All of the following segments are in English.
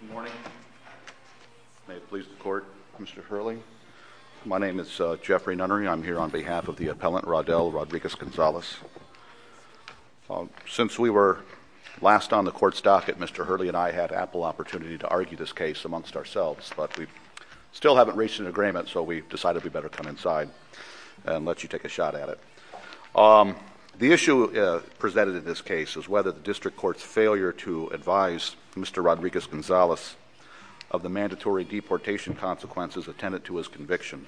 Good morning. May it please the Court, Mr. Hurley. My name is Jeffrey Nunnery. I'm here on behalf of the appellant, Raudell Rodriguez-Gonzales. Since we were last on the Court's docket, Mr. Hurley and I had ample opportunity to argue this case amongst ourselves, but we still haven't reached an agreement, so we decided we'd better come inside and let you take a shot at it. The issue presented in this case is whether the District Court's failure to advise Mr. Rodriguez-Gonzales of the mandatory deportation consequences attendant to his conviction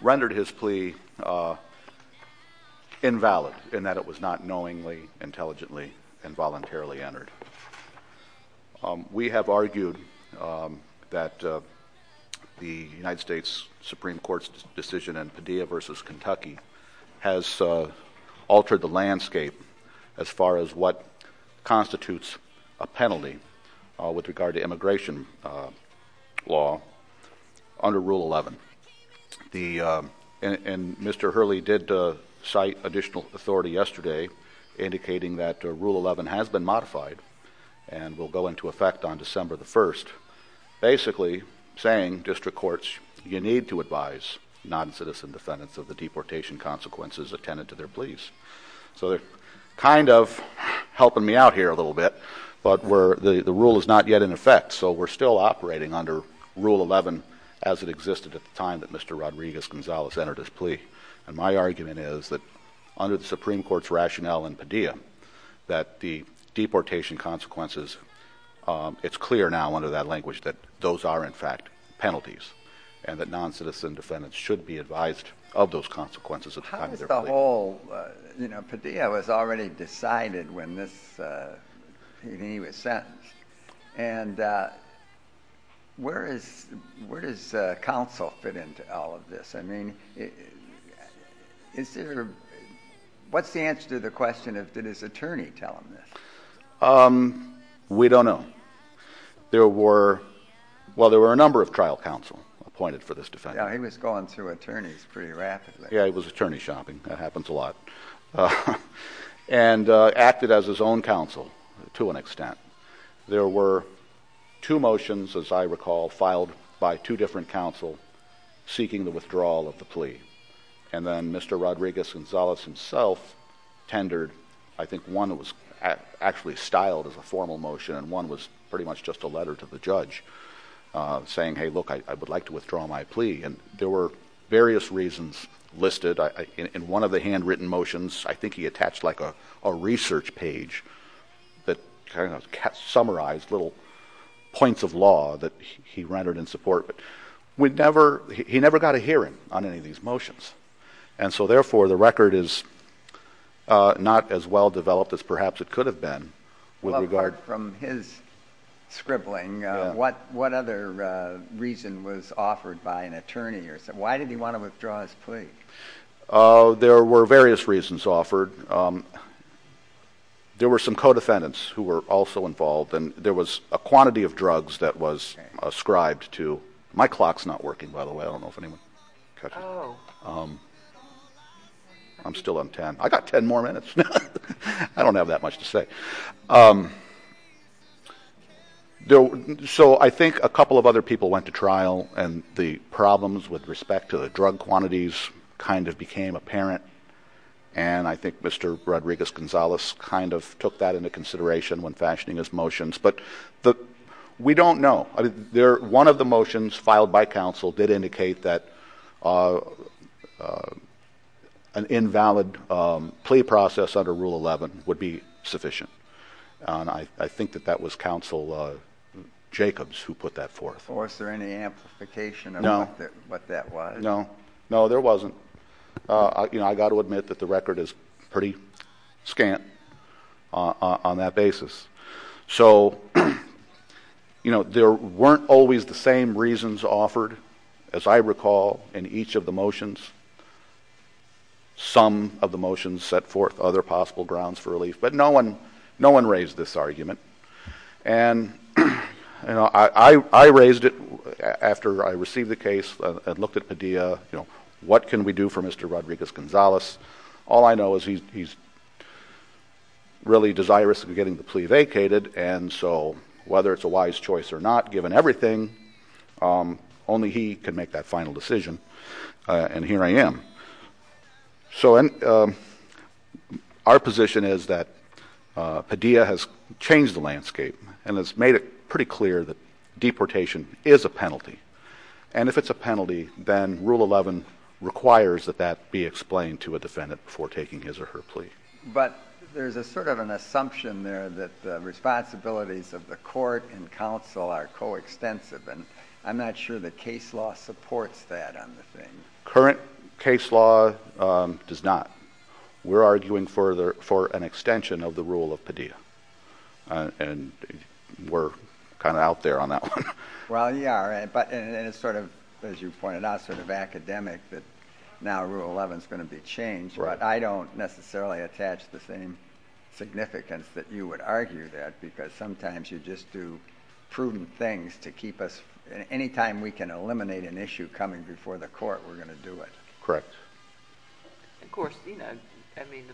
rendered his plea invalid in that it was not knowingly, intelligently, and voluntarily entered. We have argued that the United States Supreme Court's decision in Padilla v. Kentucky has altered the landscape as far as what constitutes a penalty with regard to immigration law under Rule 11. And Mr. Hurley did cite additional authority yesterday indicating that Rule 11 has been modified and will go into effect on December the 1st, basically saying District Courts, you need to advise non-citizen defendants of the deportation consequences attendant to their pleas. So they're kind of helping me out here a little bit, but the rule is not yet in effect, so we're still operating under Rule 11 as it existed at the time that Mr. Rodriguez-Gonzales entered his plea. And my argument is that under the Supreme Court's rationale in Padilla, that the deportation consequences, it's clear now under that language that those are, in fact, penalties, and that non-citizen defendants should be advised of those consequences at the time of their plea. The whole, you know, Padilla was already decided when he was sentenced, and where does counsel fit into all of this? I mean, is there, what's the answer to the question of did his attorney tell him this? We don't know. There were, well, there were a number of trial counsel appointed for this defense. Yeah, he was going through attorneys pretty rapidly. Yeah, he was attorney shopping. That happens a lot. And acted as his own counsel to an extent. There were two motions, as I recall, filed by two different counsel seeking the withdrawal of the plea. And then Mr. Rodriguez-Gonzales himself tendered, I think, one that was actually styled as a formal motion, and one was pretty much just a letter to the judge saying, hey, look, I would like to withdraw my plea. And there were various reasons listed. In one of the handwritten motions, I think he attached like a research page that kind of summarized little points of law that he rendered in support. But we'd never, he never got a hearing on any of these motions. And so therefore, the record is not as well developed as perhaps it could have been. Apart from his scribbling, what other reason was offered by an attorney? Why did he want to withdraw his plea? There were various reasons offered. There were some co-defendants who were also involved. And there was a quantity of drugs that was ascribed to, my clock's not working, by the way. I don't know if anyone catches it. I'm still on 10. I got 10 more minutes. I don't have that much to say. So I think a couple of other people went to trial, and the problems with respect to the drug quantities kind of became apparent. And I think Mr. Rodriguez-Gonzalez kind of took that into consideration when fashioning his motions. But we don't know. One of the reasons offered, as I recall, in each of the motions, some of the motions set forth other possible grounds for relief. But no one raised this argument. And I raised it after I received the case. I looked at Padilla. What can we do for Mr. Rodriguez-Gonzalez? All I know is he's really desirous of getting the plea vacated. And so whether it's a wise choice or not, given everything, only he can make that final decision. And here I am. So our position is that Padilla has changed the landscape and has made it pretty clear that deportation is a penalty. And if it's a penalty, then Rule 11 requires that that be explained to a defendant before taking his or her plea. But there's a sort of an assumption there that the responsibilities of the court and supports that on the thing. Current case law does not. We're arguing for an extension of the rule of Padilla. And we're kind of out there on that one. Well, you are. And it's sort of, as you pointed out, sort of academic that now Rule 11 is going to be changed. But I don't necessarily attach the same significance that you would argue that. Because sometimes you just do prudent things to keep us, anytime we can eliminate an issue coming before the court, we're going to do it. Correct. Of course, you know, I mean,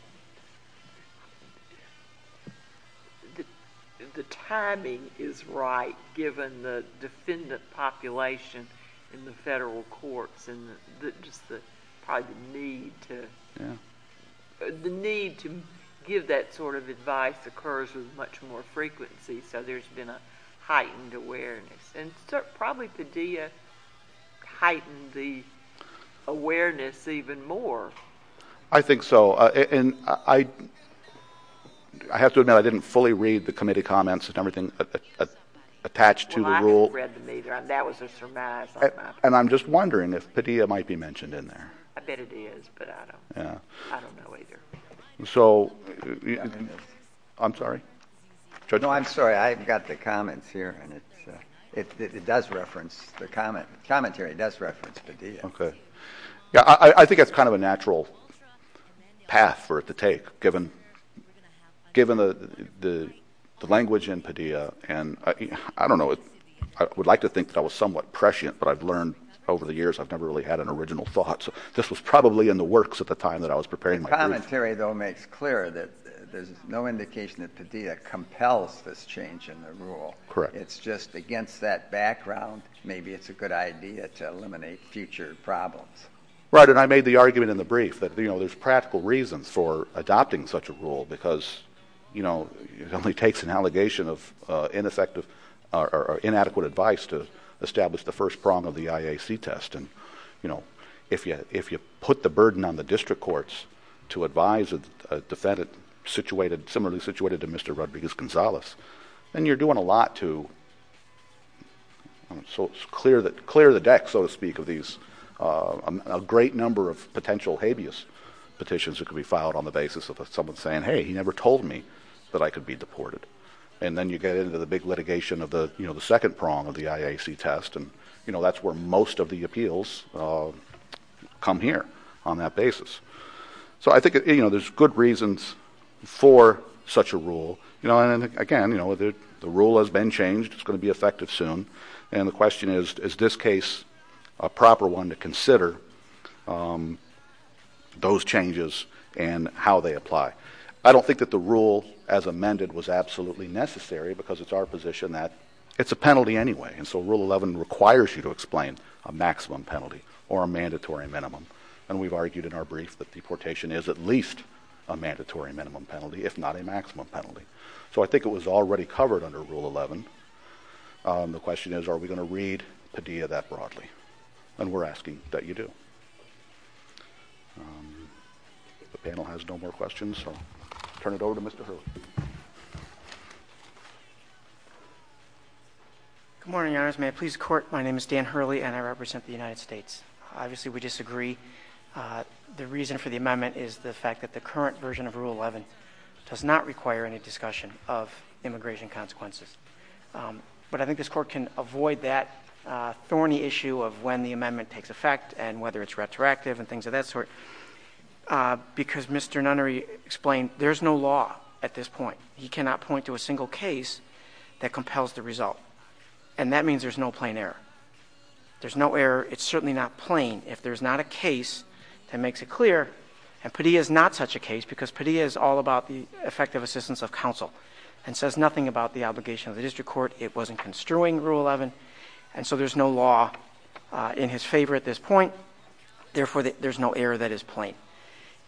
the timing is right, given the defendant population in the federal courts. And the need to give that sort of advice occurs with much more frequency. So there's been a heightened awareness. And probably Padilla heightened the awareness even more. I think so. And I have to admit, I didn't fully read the committee comments and everything attached to the rule. Well, I haven't read them either. That was a surmise. And I'm just wondering if Padilla I've got the comments here. And it's it does reference the comment. Commentary does reference Padilla. Okay. Yeah, I think it's kind of a natural path for it to take given, given the language in Padilla. And I don't know, I would like to think that was somewhat prescient. But I've learned over the years, I've never really had an original thought. So this was probably in the works at the time that I was preparing my commentary, though, makes clear that there's no indication that Padilla compels this change in the rule. Correct. It's just against that background, maybe it's a good idea to eliminate future problems. Right. And I made the argument in the brief that, you know, there's practical reasons for adopting such a rule, because, you know, it only takes an allegation of ineffective or inadequate advice to establish the first prong of the IAC test. And, you know, if you if you put the burden on the district courts, to advise a defendant situated similarly situated to Mr. Rodriguez-Gonzalez, then you're doing a lot to clear the deck, so to speak, of these, a great number of potential habeas petitions that could be filed on the basis of someone saying, hey, he never told me that I could be deported. And then you get into the big litigation of the, you know, the second prong of the IAC test. And, you know, that's where most of the appeals come here on that rule. You know, and again, you know, the rule has been changed. It's going to be effective soon. And the question is, is this case a proper one to consider those changes and how they apply? I don't think that the rule as amended was absolutely necessary, because it's our position that it's a penalty anyway. And so rule 11 requires you to explain a maximum penalty or a mandatory minimum. And we've argued in our brief that deportation is at least a mandatory minimum penalty, if not a mandatory minimum. So I think it was already covered under rule 11. The question is, are we going to read Padilla that broadly? And we're asking that you do. The panel has no more questions, so turn it over to Mr. Hurley. Good morning, Your Honors. May I please court? My name is Dan Hurley, and I represent the United States. Obviously, we disagree. The reason for the amendment is the fact that the current version of Padilla is a discussion of immigration consequences. But I think this court can avoid that thorny issue of when the amendment takes effect and whether it's retroactive and things of that sort. Because Mr. Nunnery explained, there's no law at this point. He cannot point to a single case that compels the result. And that means there's no plain error. There's no error. It's certainly not plain if there's not a case that makes it clear. And Padilla is not such a case because Padilla is all about the effective assistance of counsel and says nothing about the obligation of the district court. It wasn't construing rule 11. And so there's no law in his favor at this point. Therefore, there's no error that is plain.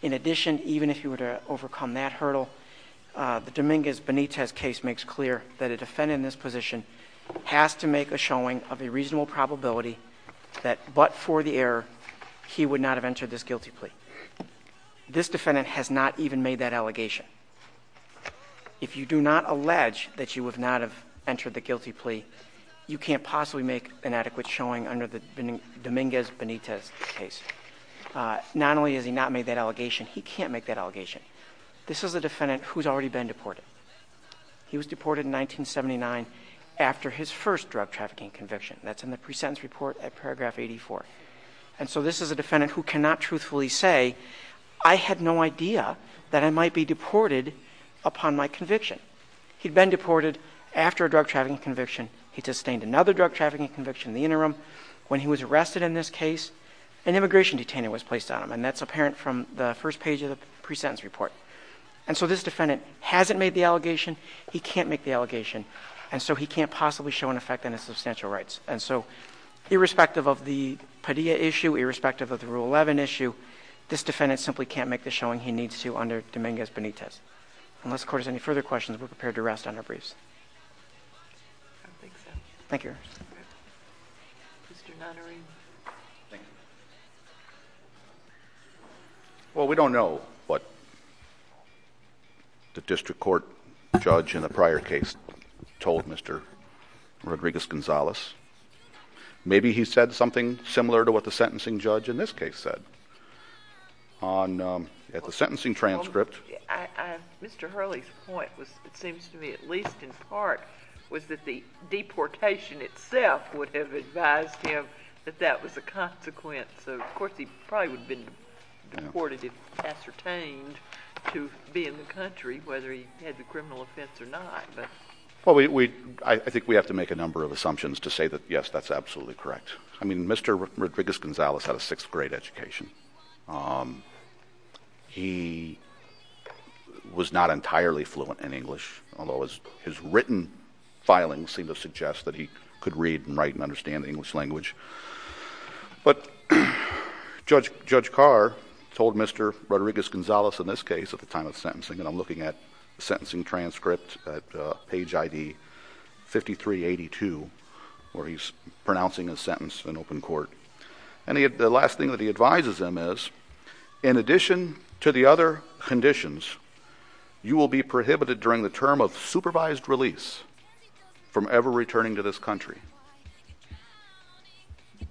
In addition, even if you were to overcome that hurdle, the Dominguez-Benitez case makes clear that a defendant in this position has to make a showing of a reasonable probability that but for the error, he would not have entered this guilty plea. This defendant has not even made that allegation. If you do not allege that you would not have entered the guilty plea, you can't possibly make an adequate showing under the Dominguez-Benitez case. Not only has he not made that allegation, he can't make that allegation. This is a defendant who's already been deported. He was deported in 1979 after his first drug trafficking conviction. That's in the pre-sentence report at the time. And so this defendant hasn't made the allegation. He can't make the allegation. And so he can't possibly show an effect on his substantial rights. And so irrespective of the Padilla issue, irrespective of the rule 11 issue, this defendant simply can't make the showing he needs to under Dominguez-Benitez. Unless the court has any further questions, we're prepared to rest on our briefs. Thank you. Well, we don't know what the district court judge in the prior case told Mr. Rodriguez-Gonzalez. Maybe he said something similar to what the sentencing judge in this case said. At the sentencing transcript. Mr. Hurley's point was, it seems to me, at least in part, was that the deportation itself would have advised him that that was a consequence. Of course, he probably would have been deported if ascertained to be in the country, whether he had the criminal offense or not, but... I think we have to make a number of assumptions to say that, yes, that's absolutely correct. I mean, he was not entirely fluent in English, although his written filings seem to suggest that he could read and write and understand the English language. But Judge Carr told Mr. Rodriguez-Gonzalez in this case, at the time of sentencing, and I'm looking at the sentencing transcript at page ID 5382, where he's pronouncing his sentence in open court. And the last thing that he advises him is, in addition to the other conditions, you will be prohibited during the term of supervised release from ever returning to this country.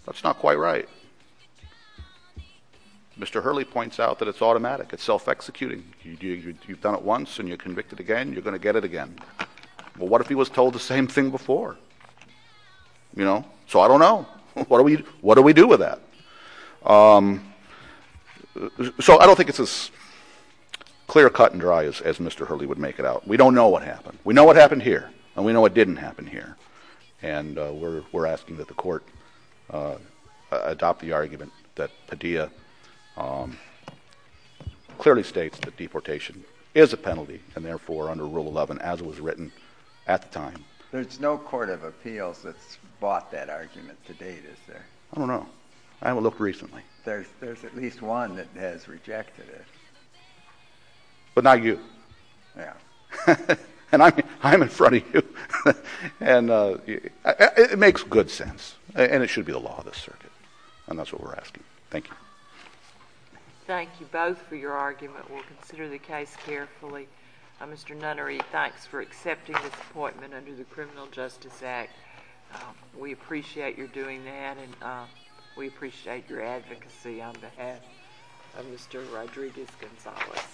That's not quite right. Mr. Hurley points out that it's automatic. It's self-executing. You've done it once and you're convicted again, you're going to get it again. Well, what if he was told the same thing before? You know? So I don't know. What do we do with that? So I don't think it's as clear-cut and dry as Mr. Hurley would make it out. We don't know what happened. We know what happened here, and we know what didn't happen here. And we're asking that the Court adopt the argument that Padilla clearly states that there's no court of appeals that's bought that argument to date, is there? I don't know. I haven't looked recently. There's at least one that has rejected it. But not you. Yeah. And I'm in front of you. And it makes good sense. And it should be the law of this circuit. And that's what we're asking. Thank you. Thank you both for your argument. We'll consider the case carefully. Mr. Nunnery, thanks for accepting this appointment under the Criminal Justice Act. We appreciate your doing that, and we appreciate your advocacy on behalf of Mr. Rodriguez-Gonzalez.